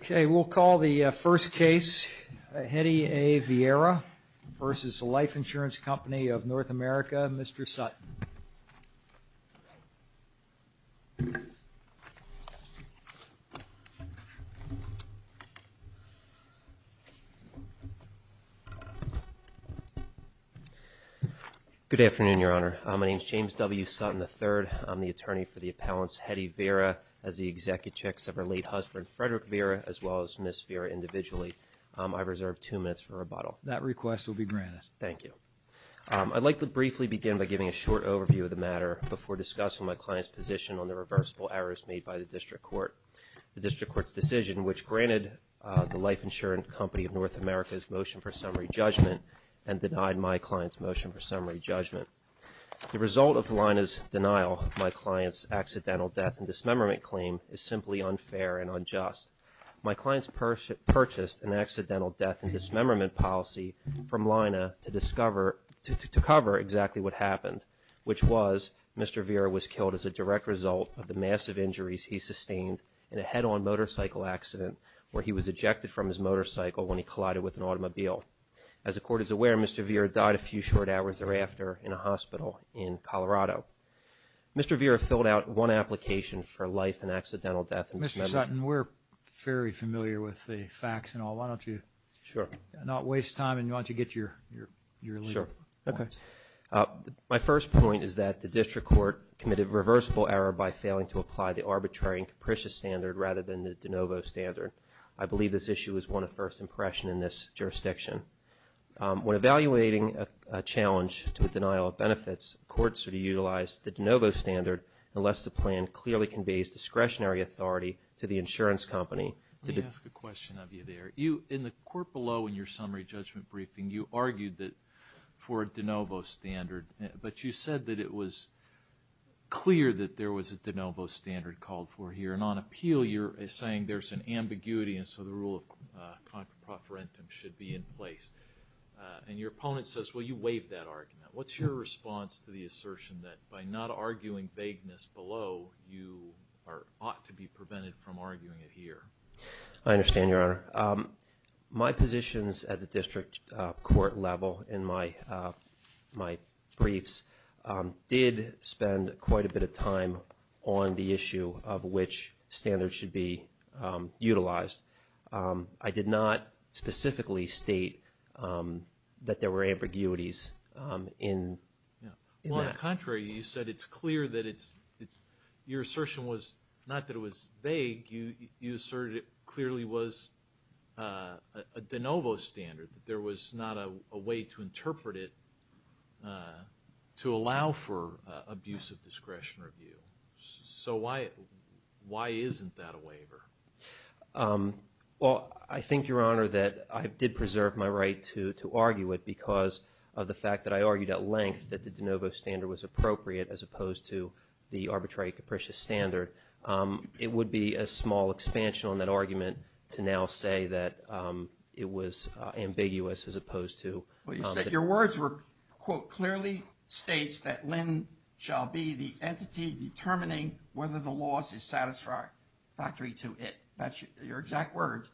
Okay, we'll call the first case, Hetty A. Viera versus Life Insurance Company Of North America, Mr. Sutton. Good afternoon, Your Honor. My name is James W. Sutton III. I'm the attorney for the appellants Hetty Viera as the Viera as well as Ms. Viera individually. I reserve two minutes for rebuttal. That request will be granted. Thank you. I'd like to briefly begin by giving a short overview of the matter before discussing my client's position on the reversible errors made by the District Court. The District Court's decision which granted the Life Insurance Company Of North America's motion for summary judgment and denied my client's motion for summary judgment. The result of the line is denial of my client's accidental death and dismemberment claim is simply unfair and unjust. My client's purchased an accidental death and dismemberment policy from Lina to discover, to cover exactly what happened, which was Mr. Viera was killed as a direct result of the massive injuries he sustained in a head-on motorcycle accident where he was ejected from his motorcycle when he collided with an automobile. As the Court is aware, Mr. Viera died a few short hours thereafter in a hospital in Colorado. Mr. Viera filled out one application for life and I'm very familiar with the facts and all. Why don't you not waste time and why don't you get your lead? My first point is that the District Court committed a reversible error by failing to apply the arbitrary and capricious standard rather than the de novo standard. I believe this issue is one of first impression in this jurisdiction. When evaluating a challenge to a denial of benefits, courts are to utilize the de novo standard unless the plan clearly conveys discretionary authority to the insurance company. Let me ask a question of you there. You, in the court below in your summary judgment briefing, you argued that for a de novo standard, but you said that it was clear that there was a de novo standard called for here. And on appeal, you're saying there's an ambiguity and so the rule of contra preferentum should be in place. And your opponent says, well you waived that argument. What's your response to the assertion that by not arguing vagueness below, you ought to be prevented from arguing it here? I understand, Your Honor. My positions at the District Court level in my briefs did spend quite a bit of time on the issue of which standards should be utilized. I did not specifically state that there were ambiguities in that. On the contrary, you said it's clear that it's, your assertion was not that it was vague, you asserted it clearly was a de novo standard. There was not a way to interpret it to allow for abuse of discretion or view. So why isn't that a waiver? Well, I think, Your Honor, that I did preserve my right to argue it because of the fact that I argued at length that the de novo standard was appropriate as opposed to the arbitrary capricious standard. It would be a small expansion on that argument to now say that it was ambiguous as opposed to... Your words were, quote, clearly states that Lynn shall be the entity determining whether the loss is satisfactory to it. That's your exact words.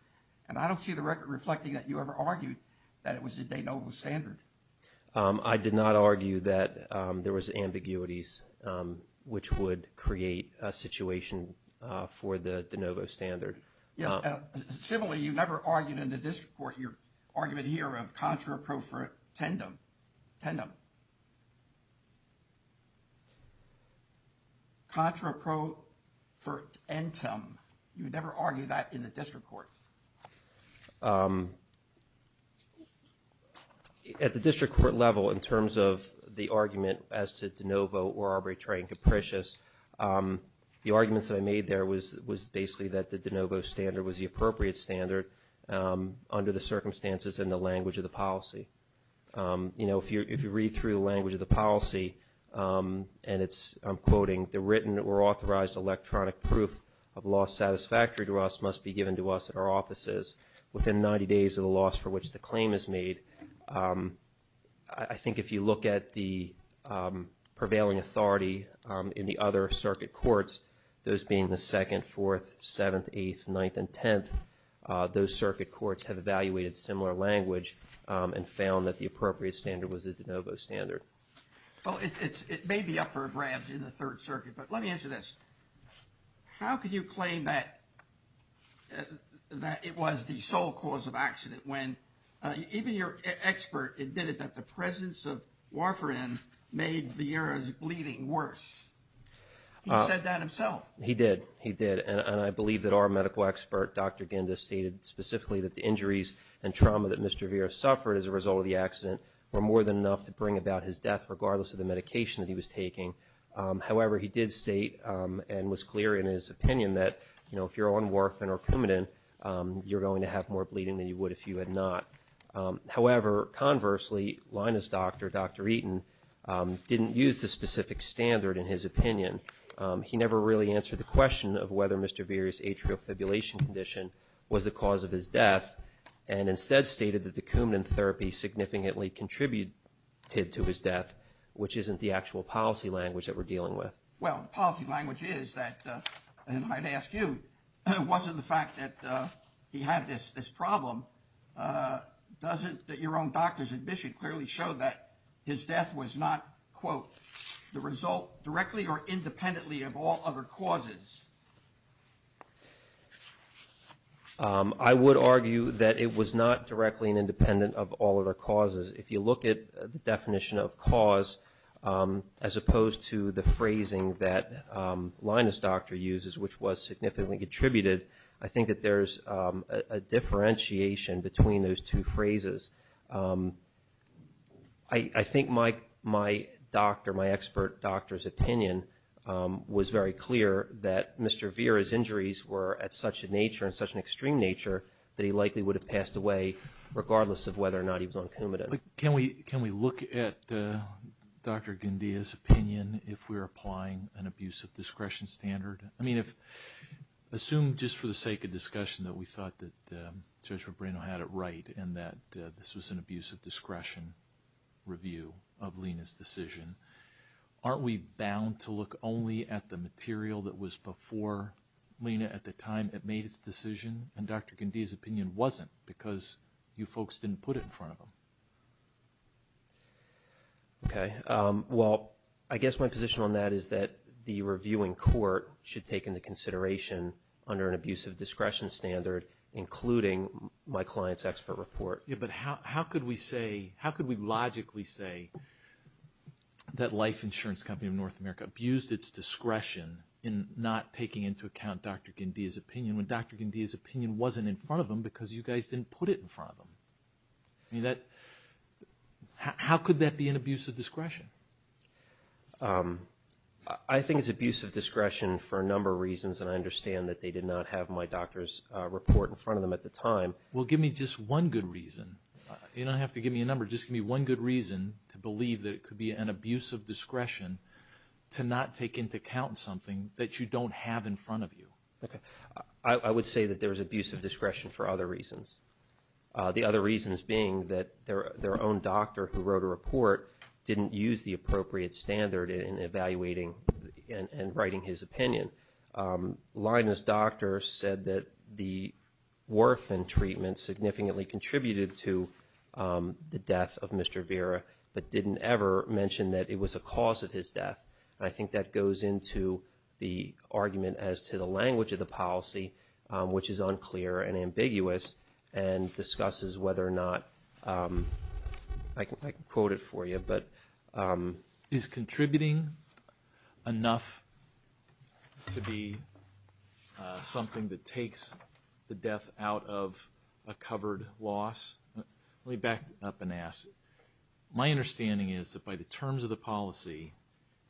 And I don't see the record reflecting that you ever argued that it was a de novo standard. I did not argue that there was ambiguities which would create a situation for the de novo standard. Similarly, you never argued in the district court, your argument here of contra pro tentum. Contra pro tentum. You never argued that in the district court. At the district court level, in terms of the argument as to de novo or arbitrary and capricious, the arguments that I made there was basically that the de novo standard was the appropriate standard under the circumstances and the language of the policy. You know, if you read through the language of the policy and it's, I'm quoting, the written or authorized electronic proof of loss satisfactory to us must be given to us at our offices within 90 days of the loss for which the claim is made. I think if you look at the prevailing authority in the other circuit courts, those being the 2nd, 4th, 7th, 8th, 9th, and 10th, those circuit courts have evaluated similar language and found that the appropriate standard was a de novo standard. Well, it may be up for grabs in the 3rd Circuit, but let me answer this. How could you claim that it was the sole cause of accident when even your expert admitted that the presence of Warfarin made Vieira's bleeding worse? He said that himself. He did. He did. And I believe that our medical expert, Dr. Ginda, stated specifically that the injuries and trauma that Mr. Vieira suffered as a result of the accident were more than enough to bring about his death regardless of the medication that he was taking. However, he did state and was clear in his opinion that, you know, if you're on Warfarin or Coumadin, you're going to have more bleeding than you would if you had not. However, conversely, Lina's doctor, Dr. Eaton, didn't use the specific standard in his opinion. He never really answered the question of whether Mr. Vieira's atrial fibrillation condition was the cause of his death and instead stated that the Coumadin therapy significantly contributed to his death, which isn't the actual policy language that we're dealing with. Well, the policy language is that, and I'd ask you, was it the fact that he had this problem? Doesn't your own doctor's admission clearly show that his death was not, quote, the result directly or independently of all other causes? I would argue that it was not directly and independent of all other causes. If you look at the definition of cause, as opposed to the phrasing that Lina's doctor uses, which was significantly contributed, I think that there's a differentiation between those two phrases. I think my doctor, my expert doctor's opinion was very clear that Mr. Vieira's injuries were at such a nature and such an extreme nature that he likely would have passed away regardless of whether or not he was on Coumadin. Can we look at Dr. Guindia's opinion if we're applying an abuse of discretion standard? I mean, assume just for the sake of discussion that we thought that Judge Rubino had it right and that this was an abuse of discretion review of Lina's decision. Aren't we bound to look only at the material that was before Lina at the time it made its decision and Dr. Guindia's opinion wasn't because you folks didn't put it in front of him? Okay. Well, I guess my position on that is that the reviewing court should take into consideration under an abuse of discretion standard, including my client's expert report. Yeah, but how could we say, how could we logically say that Life Insurance Company of North America abused its discretion in not taking into account Dr. Guindia's opinion when Dr. Guindia's opinion wasn't in front of him because you guys didn't put it in front of him? I mean, that, how could that be an abuse of discretion? I think it's abuse of discretion for a number of reasons, and I understand that they did not have my doctor's report in front of them at the time. Well, give me just one good reason. You don't have to give me a number. Just give me one good reason to believe that it could be an abuse of discretion to not take into account something that you don't have in front of you. Okay. I would say that there was abuse of discretion for other reasons. The other reasons being that their own doctor who wrote a report didn't use the appropriate standard in evaluating and writing his opinion. Lina's doctor said that the orphan treatment significantly contributed to the death of Mr. Vera, but didn't ever mention that it was a cause of his death. I think that goes into the argument as to the language of the policy, which is unclear and ambiguous, and discusses whether or not, I can quote it for you, but... Is contributing enough to be something that takes the death out of a covered loss? Let me back up and ask. My understanding is that by the terms of the policy,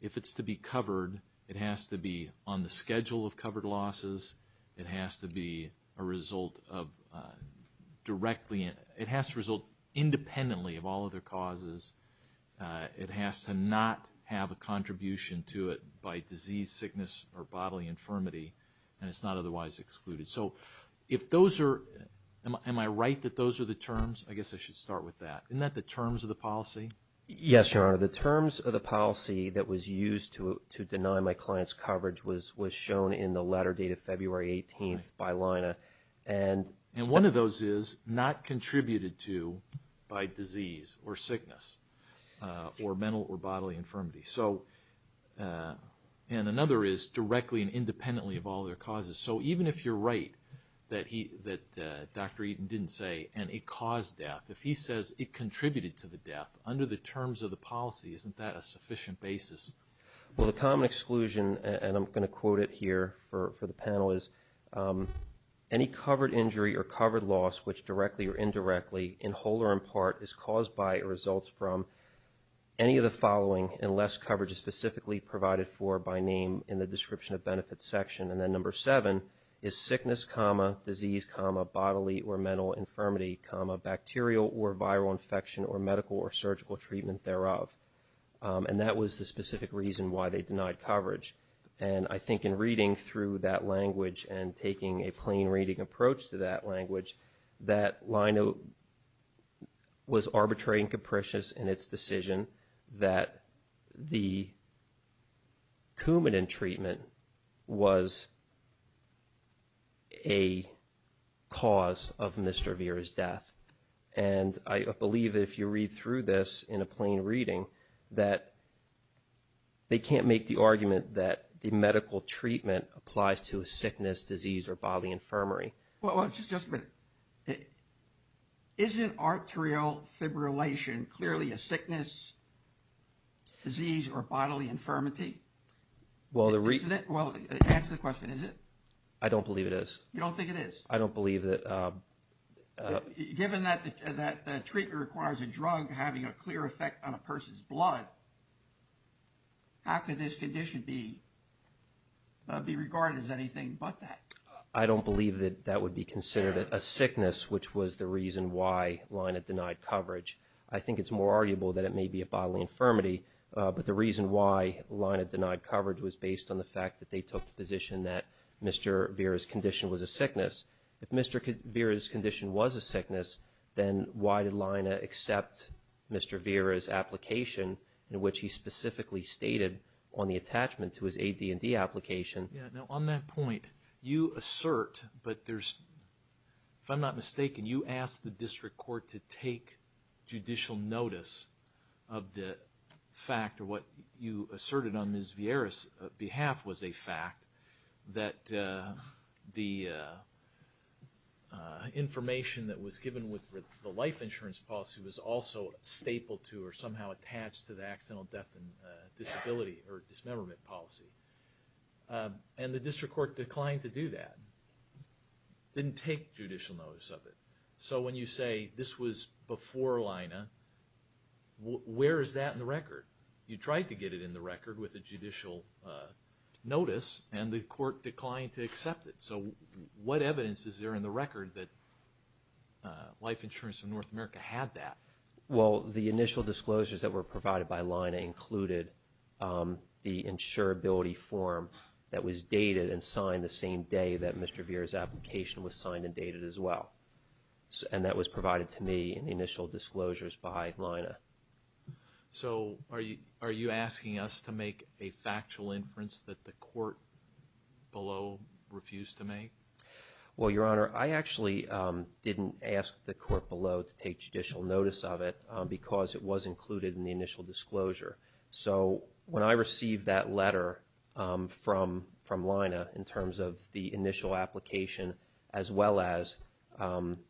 if it's to be covered, it has to be on the schedule of covered losses. It has to be a result of directly... It has to result independently of all other causes. It has to not have a contribution to it by disease, sickness, or bodily infirmity, and it's not otherwise excluded. So if those are... Am I right that those are the terms? I guess I should start with that. Isn't that the terms of the policy? Yes, Your Honor. The terms of the policy that was used to deny my client's coverage was shown in the letter dated February 18th by Lina. And one of those is not contributed to by disease or sickness or mental or bodily infirmity. So... And another is directly and independently of all other causes. So even if you're right that Dr. Eaton didn't say, and it caused death, if he says it contributed to the death, under the terms of the policy, isn't that a sufficient basis? Well, the common exclusion, and I'm going to quote it here for the panel, is... And that was the specific reason why they denied coverage. And I think in reading through that language and taking a plain reading approach to that language, that Lino was arbitrary and capricious in its decision that the Coumadin treatment was a cause of Mr. Vera's death. And I believe if you read through this in a plain reading, that they can't make the argument that the medical treatment applies to a sickness, disease, or bodily infirmary. Well, just a minute. Isn't arterial fibrillation clearly a sickness, disease, or bodily infirmity? Isn't it? Well, answer the question. Is it? I don't believe it is. You don't think it is? I don't believe that... Given that the treatment requires a drug having a clear effect on a person's blood, how could this condition be regarded as anything but that? I don't believe that that would be considered a sickness, which was the reason why Lino denied coverage. I think it's more arguable that it may be a bodily infirmity, but the reason why Lino denied coverage was based on the fact that they took the position that Mr. Vera's condition was a sickness. If Mr. Vera's condition was a sickness, then why did Lino accept Mr. Vera's application in which he specifically stated on the attachment to his AD&D application? Yeah. Now, on that point, you assert, but there's... If I'm not mistaken, you asked the district court to take Mr. Vera's treatment. You took judicial notice of the fact, or what you asserted on Ms. Vera's behalf was a fact, that the information that was given with the life insurance policy was also stapled to or somehow attached to the accidental death and disability or dismemberment policy. And the district court declined to do that. It didn't take judicial notice of it. So when you say this was before Lino, where is that in the record? You tried to get it in the record with a judicial notice, and the court declined to accept it. So what evidence is there in the record that Life Insurance of North America had that? Well, the initial disclosures that were provided by Lino included the insurability form that was dated and signed the same day that Mr. Vera's application was signed and dated as well. And that was provided to me in the initial disclosures by Lino. So are you asking us to make a factual inference that the court below refused to make? Well, Your Honor, I actually didn't ask the court below to take judicial notice of it because it was included in the initial disclosure. So when I received that letter from Lino in terms of the initial application, as well as the fact that Mr. Vera's application was signed,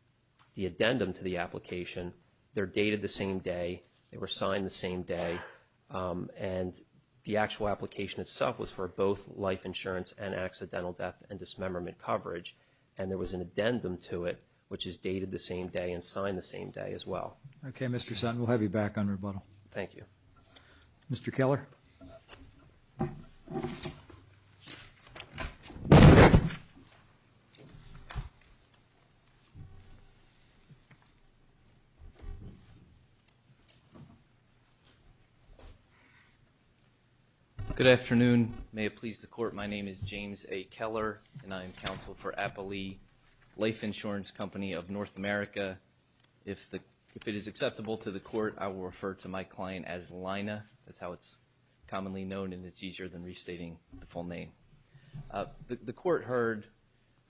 the addendum to the application, they're dated the same day, they were signed the same day, and the actual application itself was for both Life Insurance and accidental death and dismemberment coverage, and there was an addendum to it which is dated the same day and signed the same day as well. Okay, Mr. Sutton, we'll have you back on rebuttal. Thank you. Mr. Keller? Good afternoon. May it please the court, my name is James A. Keller, and I am counsel for Appalee Life Insurance Company of North America. If it is acceptable to the court, I will refer to my client as Lina, that's how it's commonly known, and it's easier than restating the full name. The court heard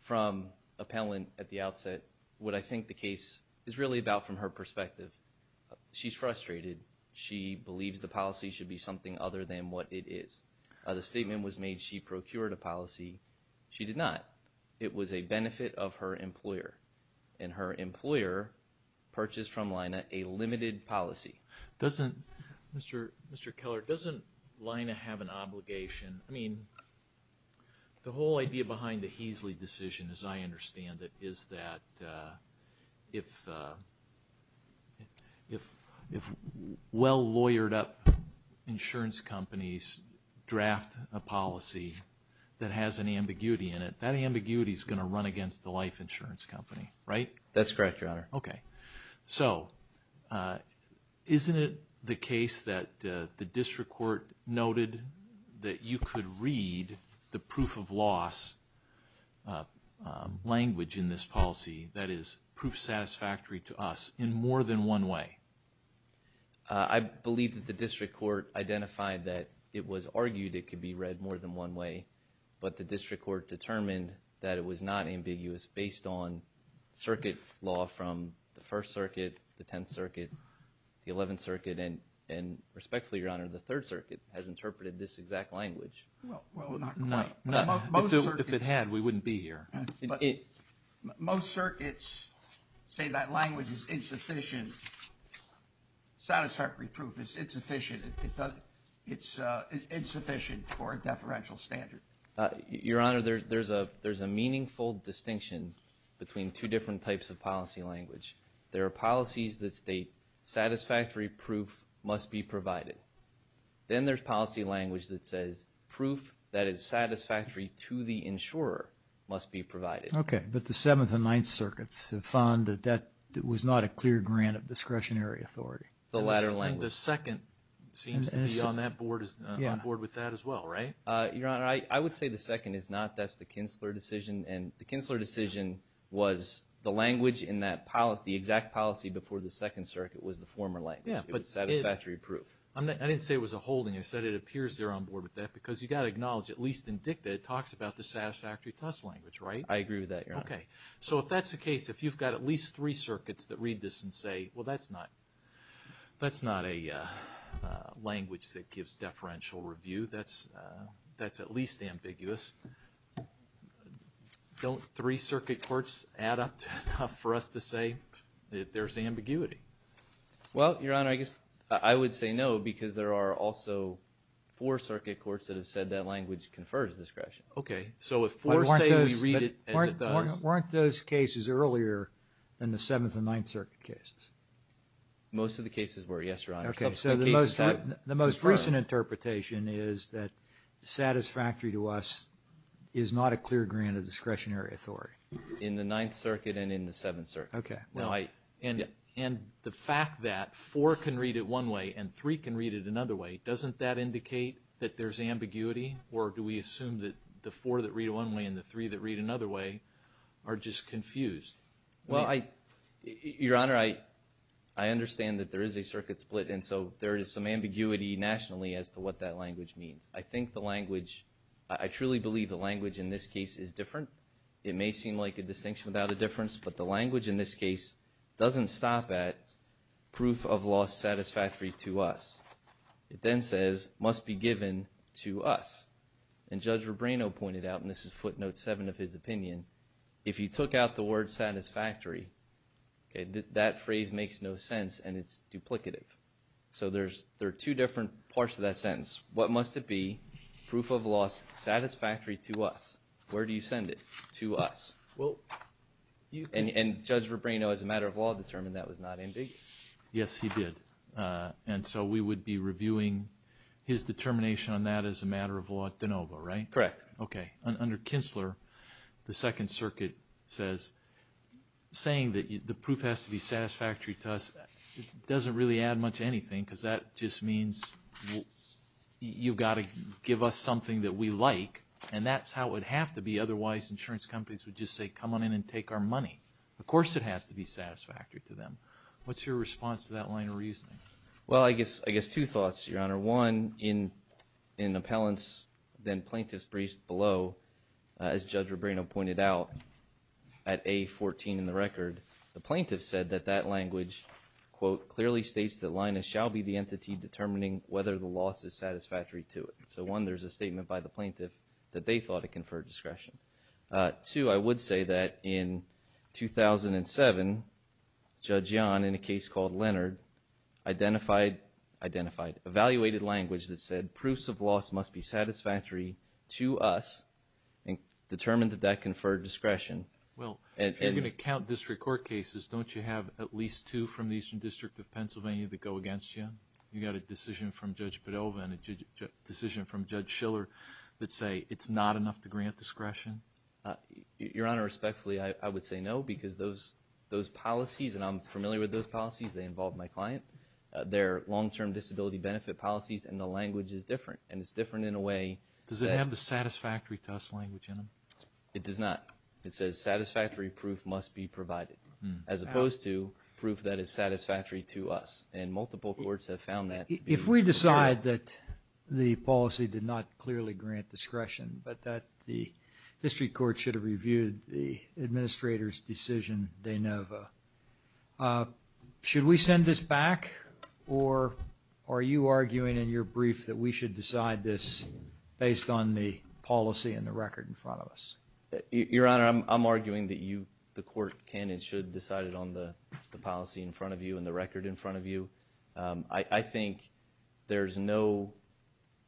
from appellant at the outset what I think the case is really about from her perspective. She's frustrated. She believes the policy should be something other than what it is. The statement was made she procured a policy. She did not. Her purchase from Lina, a limited policy. Mr. Keller, doesn't Lina have an obligation? I mean, the whole idea behind the Heasley decision, as I understand it, is that if well-lawyered up insurance companies draft a policy that has an ambiguity in it, that ambiguity is going to run against the Life Insurance Company, right? That's correct, Your Honor. Okay. So, isn't it the case that the district court noted that you could read the proof of loss language in this policy, that is, proof satisfactory to us, in more than one way? I believe that the district court identified that it was argued it could be read more than one way, but the district court determined that it was not ambiguous based on circuit law from the First Circuit, the Tenth Circuit, the Eleventh Circuit, and respectfully, Your Honor, the Third Circuit has interpreted this exact language. Well, not quite. If it had, we wouldn't be here. Most circuits say that language is insufficient. Satisfactory proof is insufficient. It's insufficient for a deferential standard. Your Honor, there's a meaningful distinction between two different types of policy language. There are policies that state satisfactory proof must be provided. Then there's policy language that says proof that is satisfactory to the insurer must be provided. Okay. But the Seventh and Ninth Circuits have found that that was not a clear grant of discretionary authority. The latter language. The second seems to be on board with that as well, right? Your Honor, I would say the second is not. That's the Kinsler decision, and the Kinsler decision was the language in that policy, the exact policy before the Second Circuit was the former language. It was satisfactory proof. I didn't say it was a holding. I said it appears they're on board with that because you've got to acknowledge, at least in dicta, it talks about the satisfactory test language, right? I agree with that, Your Honor. Okay. So if that's the case, if you've got at least three circuits that read this and say, well, that's not a language that gives deferential review, that's at least ambiguous, don't three circuit courts add up enough for us to say that there's ambiguity? Well, Your Honor, I guess I would say no because there are also four circuit courts that have said that language confers discretion. Okay. So if four say we read it as it does. Weren't those cases earlier than the Seventh and Ninth Circuit cases? Most of the cases were, yes, Your Honor. Okay. So the most recent interpretation is that satisfactory to us is not a clear grant of discretionary authority. In the Ninth Circuit and in the Seventh Circuit. Okay. And the fact that four can read it one way and three can read it another way, doesn't that indicate that there's ambiguity or do we assume that the four that read one way and the three that read another way are just confused? Well, Your Honor, I understand that there is a circuit split and so there is some ambiguity nationally as to what that language means. I think the language, I truly believe the language in this case is different. It may seem like a distinction without a difference, but the language in this case doesn't stop at proof of law satisfactory to us. It then says must be given to us. And Judge Rebrano pointed out, and this is footnote seven of his opinion, if you took out the word satisfactory, that phrase makes no sense and it's duplicative. So there are two different parts of that sentence. What must it be? Proof of law satisfactory to us. Where do you send it? To us. And Judge Rebrano, as a matter of law, determined that was not ambiguous. Yes, he did. And so we would be reviewing his determination on that as a matter of law de novo, right? Correct. Okay. Under Kinzler, the Second Circuit says saying that the proof has to be satisfactory to us doesn't really add much to anything because that just means you've got to give us something that we like, and that's how it would have to be. Otherwise, insurance companies would just say come on in and take our money. Of course it has to be satisfactory to them. What's your response to that line of reasoning? Well, I guess two thoughts, Your Honor. One, in appellants, then plaintiffs briefed below, as Judge Rebrano pointed out, at A14 in the record, the plaintiff said that that language, quote, clearly states that Linus shall be the entity determining whether the loss is satisfactory to it. So, one, there's a statement by the plaintiff that they thought it conferred discretion. Two, I would say that in 2007, Judge Young, in a case called Leonard, identified, evaluated language that said proofs of loss must be satisfactory to us and determined that that conferred discretion. Well, if you're going to count district court cases, don't you have at least two from the Eastern District of Pennsylvania that go against you? You've got a decision from Judge Padova and a decision from Judge Schiller that say it's not enough to grant discretion? Your Honor, respectfully, I would say no because those policies, and I'm familiar with those policies, they involve my client, they're long-term disability benefit policies and the language is different. And it's different in a way that... Does it have the satisfactory to us language in them? It does not. It says satisfactory proof must be provided as opposed to proof that is satisfactory to us. And multiple courts have found that to be... If we decide that the policy did not clearly grant discretion but that the district court should have reviewed the administrator's decision de novo, should we send this back or are you arguing in your brief that we should decide this based on the policy and the record in front of us? Your Honor, I'm arguing that you, the court, can and should decide it on the policy in front of you and the record in front of you. I think there's no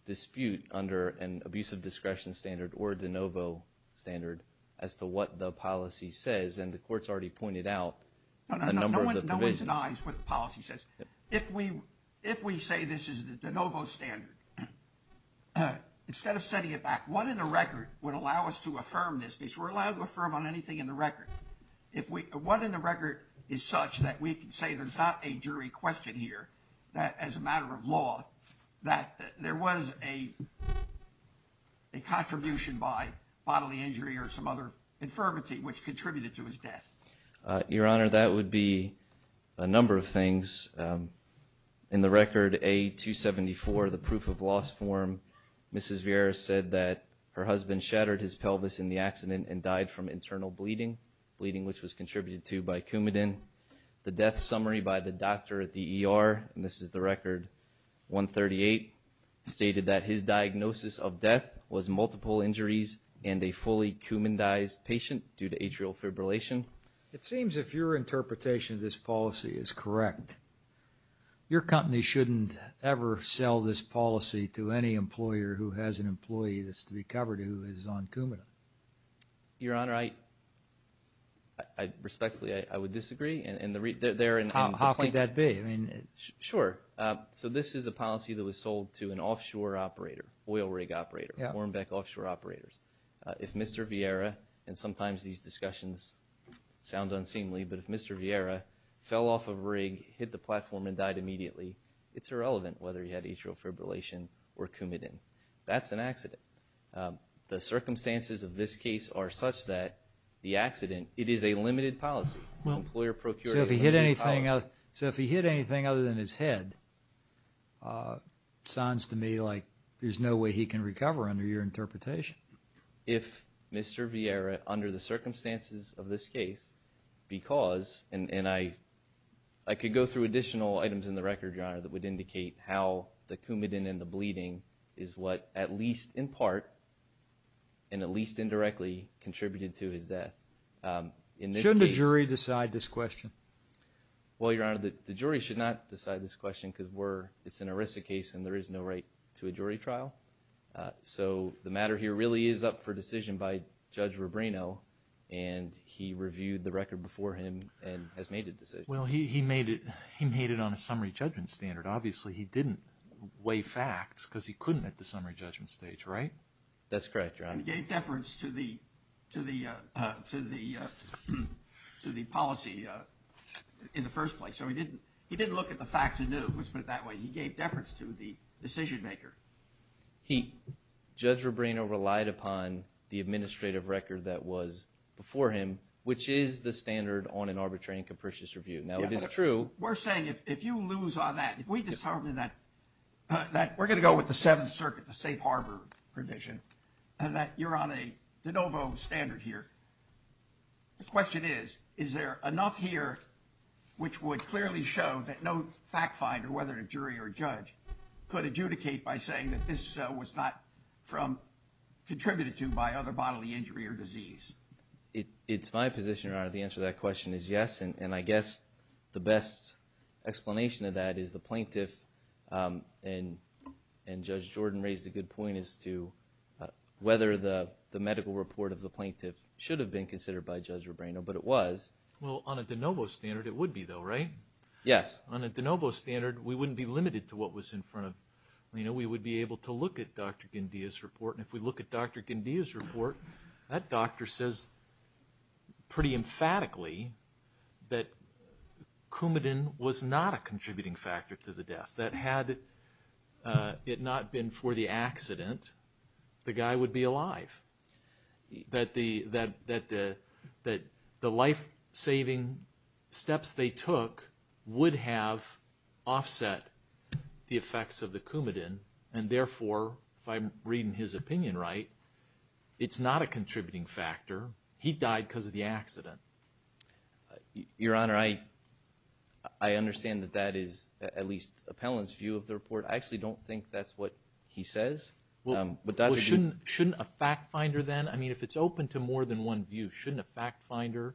dispute under an abusive discretion standard or de novo standard as to what the policy says. And the court's already pointed out a number of the provisions. No one denies what the policy says. If we say this is the de novo standard, instead of sending it back, what in the record would allow us to affirm this? Because we're allowed to affirm on anything in the record. What in the record is such that we can say there's not a jury question here, that as a matter of law, that there was a contribution by bodily injury or some other infirmity which contributed to his death? Your Honor, that would be a number of things. In the record, A274, the proof of loss form, Mrs. Vieira said that her husband shattered his pelvis in the accident and died from internal bleeding, bleeding which was contributed to by Coumadin. The death summary by the doctor at the ER, and this is the record, 138 stated that his diagnosis of death was multiple injuries and a fully Coumandized patient due to atrial fibrillation. It seems if your interpretation of this policy is correct, your company shouldn't ever sell this policy to any employer who has an employee that's to be covered who is on Coumadin. Your Honor, respectfully, I would disagree. How could that be? Sure. So this is a policy that was sold to an offshore operator, oil rig operator, Warnbeck Offshore Operators. If Mr. Vieira, and sometimes these discussions sound unseemly, but if Mr. Vieira fell off a rig, hit the platform, and died immediately, it's irrelevant whether he had atrial fibrillation or Coumadin. That's an accident. The circumstances of this case are such that the accident, it is a limited policy. So if he hit anything other than his head, it sounds to me like there's no way he can recover under your interpretation. If Mr. Vieira, under the circumstances of this case, because, and I could go through additional items in the record, your Honor, that would indicate how the Coumadin and the bleeding is what, at least in part, and at least indirectly, contributed to his death. Shouldn't a jury decide this question? Well, your Honor, the jury should not decide this question because it's an ERISA case and there is no right to a jury trial. So the matter here really is up for decision by Judge Rubrino, and he reviewed the record before him and has made a decision. Well, he made it on a summary judgment standard. Obviously, he didn't weigh facts because he couldn't at the summary judgment stage, right? That's correct, your Honor. He gave deference to the policy in the first place. So he didn't look at the facts anew, let's put it that way. He gave deference to the decision maker. Judge Rubrino relied upon the administrative record that was before him, which is the standard on an arbitrary and capricious review. Now, it is true. We're saying if you lose on that, if we disharbon that, we're going to go with the Seventh Circuit, the safe harbor provision, that you're on a de novo standard here. The question is, is there enough here which would clearly show that no fact finder, whether a jury or a judge, could adjudicate by saying that this was not contributed to by other bodily injury or disease? It's my position, your Honor, the answer to that question is yes, and I guess the best explanation of that is the plaintiff and Judge Jordan raised a good point as to whether the medical report of the plaintiff should have been considered by Judge Rubrino, but it was. Well, on a de novo standard, it would be though, right? Yes. On a de novo standard, we wouldn't be limited to what was in front of, we would be able to look at Dr. Guindia's report, and if we look at Dr. Guindia's report, that doctor says pretty emphatically that Coumadin was not a contributing factor to the death, that had it not been for the accident, the guy would be alive, that the life-saving steps they took would have offset the effects of the Coumadin, and therefore, if I'm reading his opinion right, it's not a contributing factor. He died because of the accident. Your Honor, I understand that that is at least a panelist's view of the report. I actually don't think that's what he says. Well, shouldn't a fact finder then, I mean, if it's open to more than one view, shouldn't a fact finder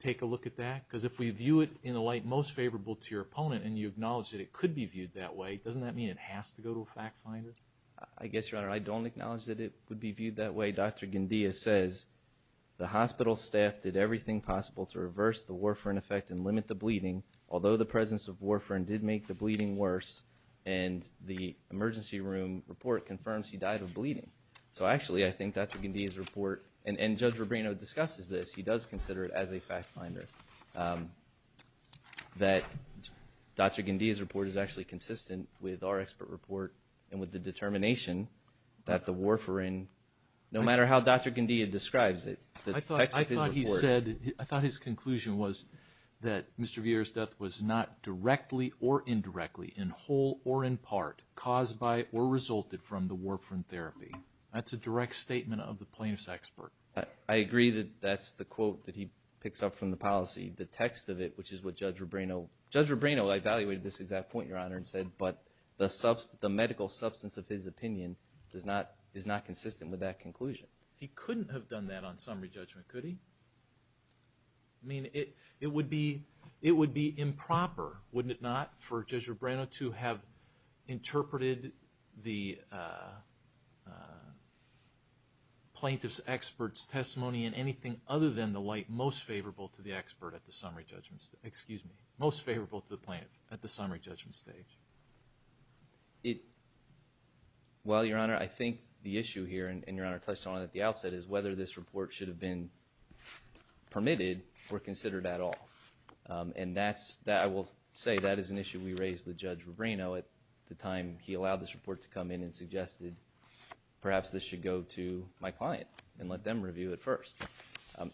take a look at that? Because if we view it in a light most favorable to your opponent and you acknowledge that it could be viewed that way, doesn't that mean it has to go to a fact finder? I guess, Your Honor, I don't acknowledge that it would be viewed that way. Dr. Guindia says, the hospital staff did everything possible to reverse the warfarin effect and limit the bleeding. Although the presence of warfarin did make the bleeding worse, and the emergency room report confirms he died of bleeding. So actually, I think Dr. Guindia's report, and Judge Rubino discusses this, he does consider it as a fact finder, that Dr. Guindia's report is actually consistent with our expert report and with the determination that the warfarin, no matter how Dr. Guindia describes it, the effects of his report. I thought his conclusion was that Mr. Vieira's death was not directly or indirectly in whole or in part caused by or resulted from the warfarin therapy. That's a direct statement of the plaintiff's expert. I agree that that's the quote that he picks up from the policy, the text of it, which is what Judge Rubino, Judge Rubino evaluated this exact point, Your Honor, and said, but the medical substance of his opinion is not consistent with that conclusion. He couldn't have done that on summary judgment, could he? I mean, it would be improper, wouldn't it not, for Judge Rubino to have interpreted the plaintiff's expert's testimony in anything other than the light most favorable to the expert at the summary judgment, excuse me, most favorable to the plaintiff at the summary judgment stage. Well, Your Honor, I think the issue here, and Your Honor touched on it at the outset, is whether this report should have been permitted or considered at all. And I will say that is an issue we raised with Judge Rubino at the time he allowed this report to come in and suggested perhaps this should go to my client and let them review it first.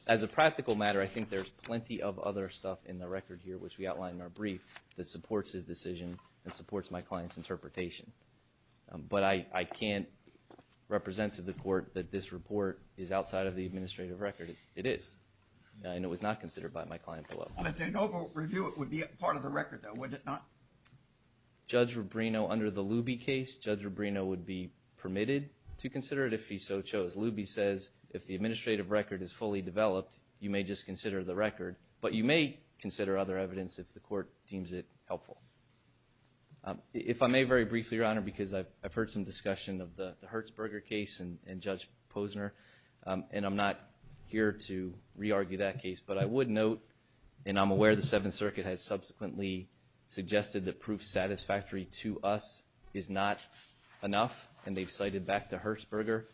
As a practical matter, I think there's plenty of other stuff in the record here, which we outlined in our brief, that supports his decision and supports my client's interpretation. But I can't represent to the court that this report is outside of the administrative record. It is, and it was not considered by my client below. And if they don't review it, it would be part of the record, though, would it not? Judge Rubino, under the Luby case, Judge Rubino would be permitted to consider it if he so chose. Luby says if the administrative record is fully developed, you may just consider the record. But you may consider other evidence if the court deems it helpful. If I may very briefly, Your Honor, because I've heard some discussion of the Hertzberger case and Judge Posner, and I'm not here to re-argue that case, but I would note, and I'm aware the Seventh Circuit has subsequently suggested that proof satisfactory to us is not enough, and they've cited back the Hertzberger.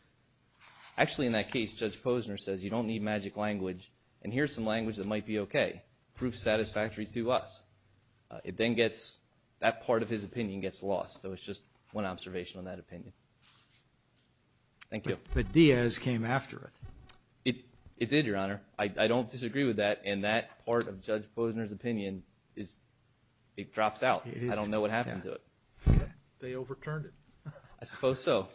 Actually, in that case, Judge Posner says you don't need magic language, and here's some language that might be okay, proof satisfactory to us. It then gets, that part of his opinion gets lost, so it's just one observation on that opinion. Thank you. But Diaz came after it. It did, Your Honor. I don't disagree with that, and that part of Judge Posner's opinion, it drops out. I don't know what happened to it. They overturned it. I suppose so.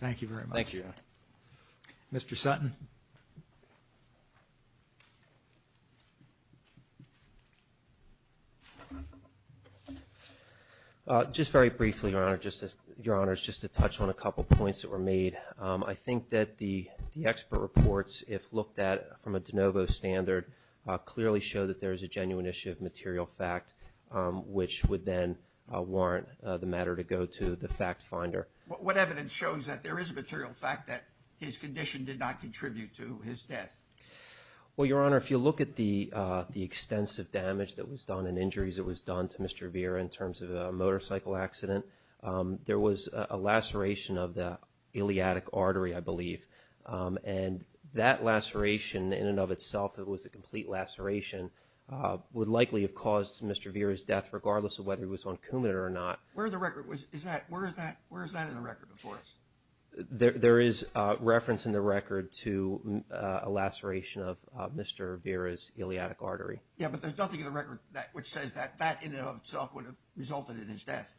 Thank you very much. Thank you, Your Honor. Mr. Sutton. Just very briefly, Your Honor, just to touch on a couple points that were made. I think that the expert reports, if looked at from a de novo standard, clearly show that there is a genuine issue of material fact, which would then warrant the matter to go to the fact finder. What evidence shows that there is a material fact that his condition did not contribute to his death? Well, Your Honor, if you look at the extensive damage that was done and injuries that was done to Mr. Vera in terms of a motorcycle accident, there was a laceration of the iliatic artery, I believe, and that laceration in and of itself, it was a complete laceration, would likely have caused Mr. Vera's death, regardless of whether he was on Coumadin or not. Where is that in the record before us? There is reference in the record to a laceration of Mr. Vera's iliatic artery. Yeah, but there's nothing in the record which says that that in and of itself would have resulted in his death.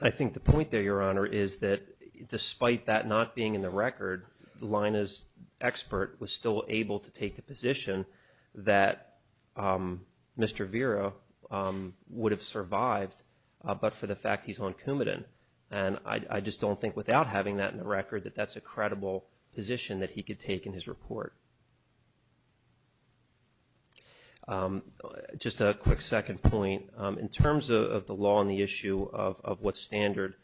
I think the point there, Your Honor, is that despite that not being in the record, Lina's expert was still able to take the position that Mr. Vera would have survived, but for the fact he's on Coumadin, and I just don't think without having that in the record that that's a credible position that he could take in his report. Just a quick second point. In terms of the law and the issue of what standard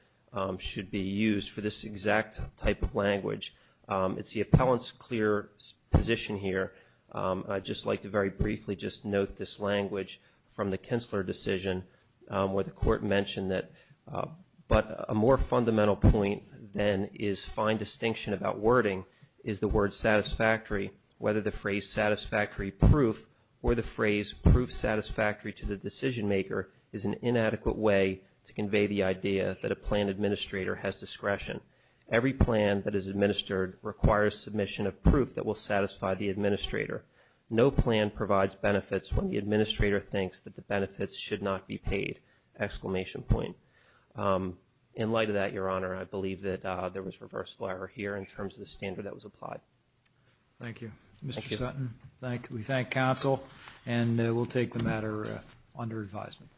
should be used for this exact type of language, it's the appellant's clear position here. I'd just like to very briefly just note this language from the Kintzler decision where the court mentioned that but a more fundamental point than is fine distinction about wording is the word satisfactory, whether the phrase satisfactory proof or the phrase proof satisfactory to the decision maker is an inadequate way to convey the idea that a plan administrator has discretion. Every plan that is administered requires submission of proof that will satisfy the administrator. No plan provides benefits when the administrator thinks that the benefits should not be paid, exclamation point. In light of that, Your Honor, I believe that there was reverse order here in terms of the standard that was applied. Thank you. Mr. Sutton, we thank counsel, and we'll take the matter under advisement.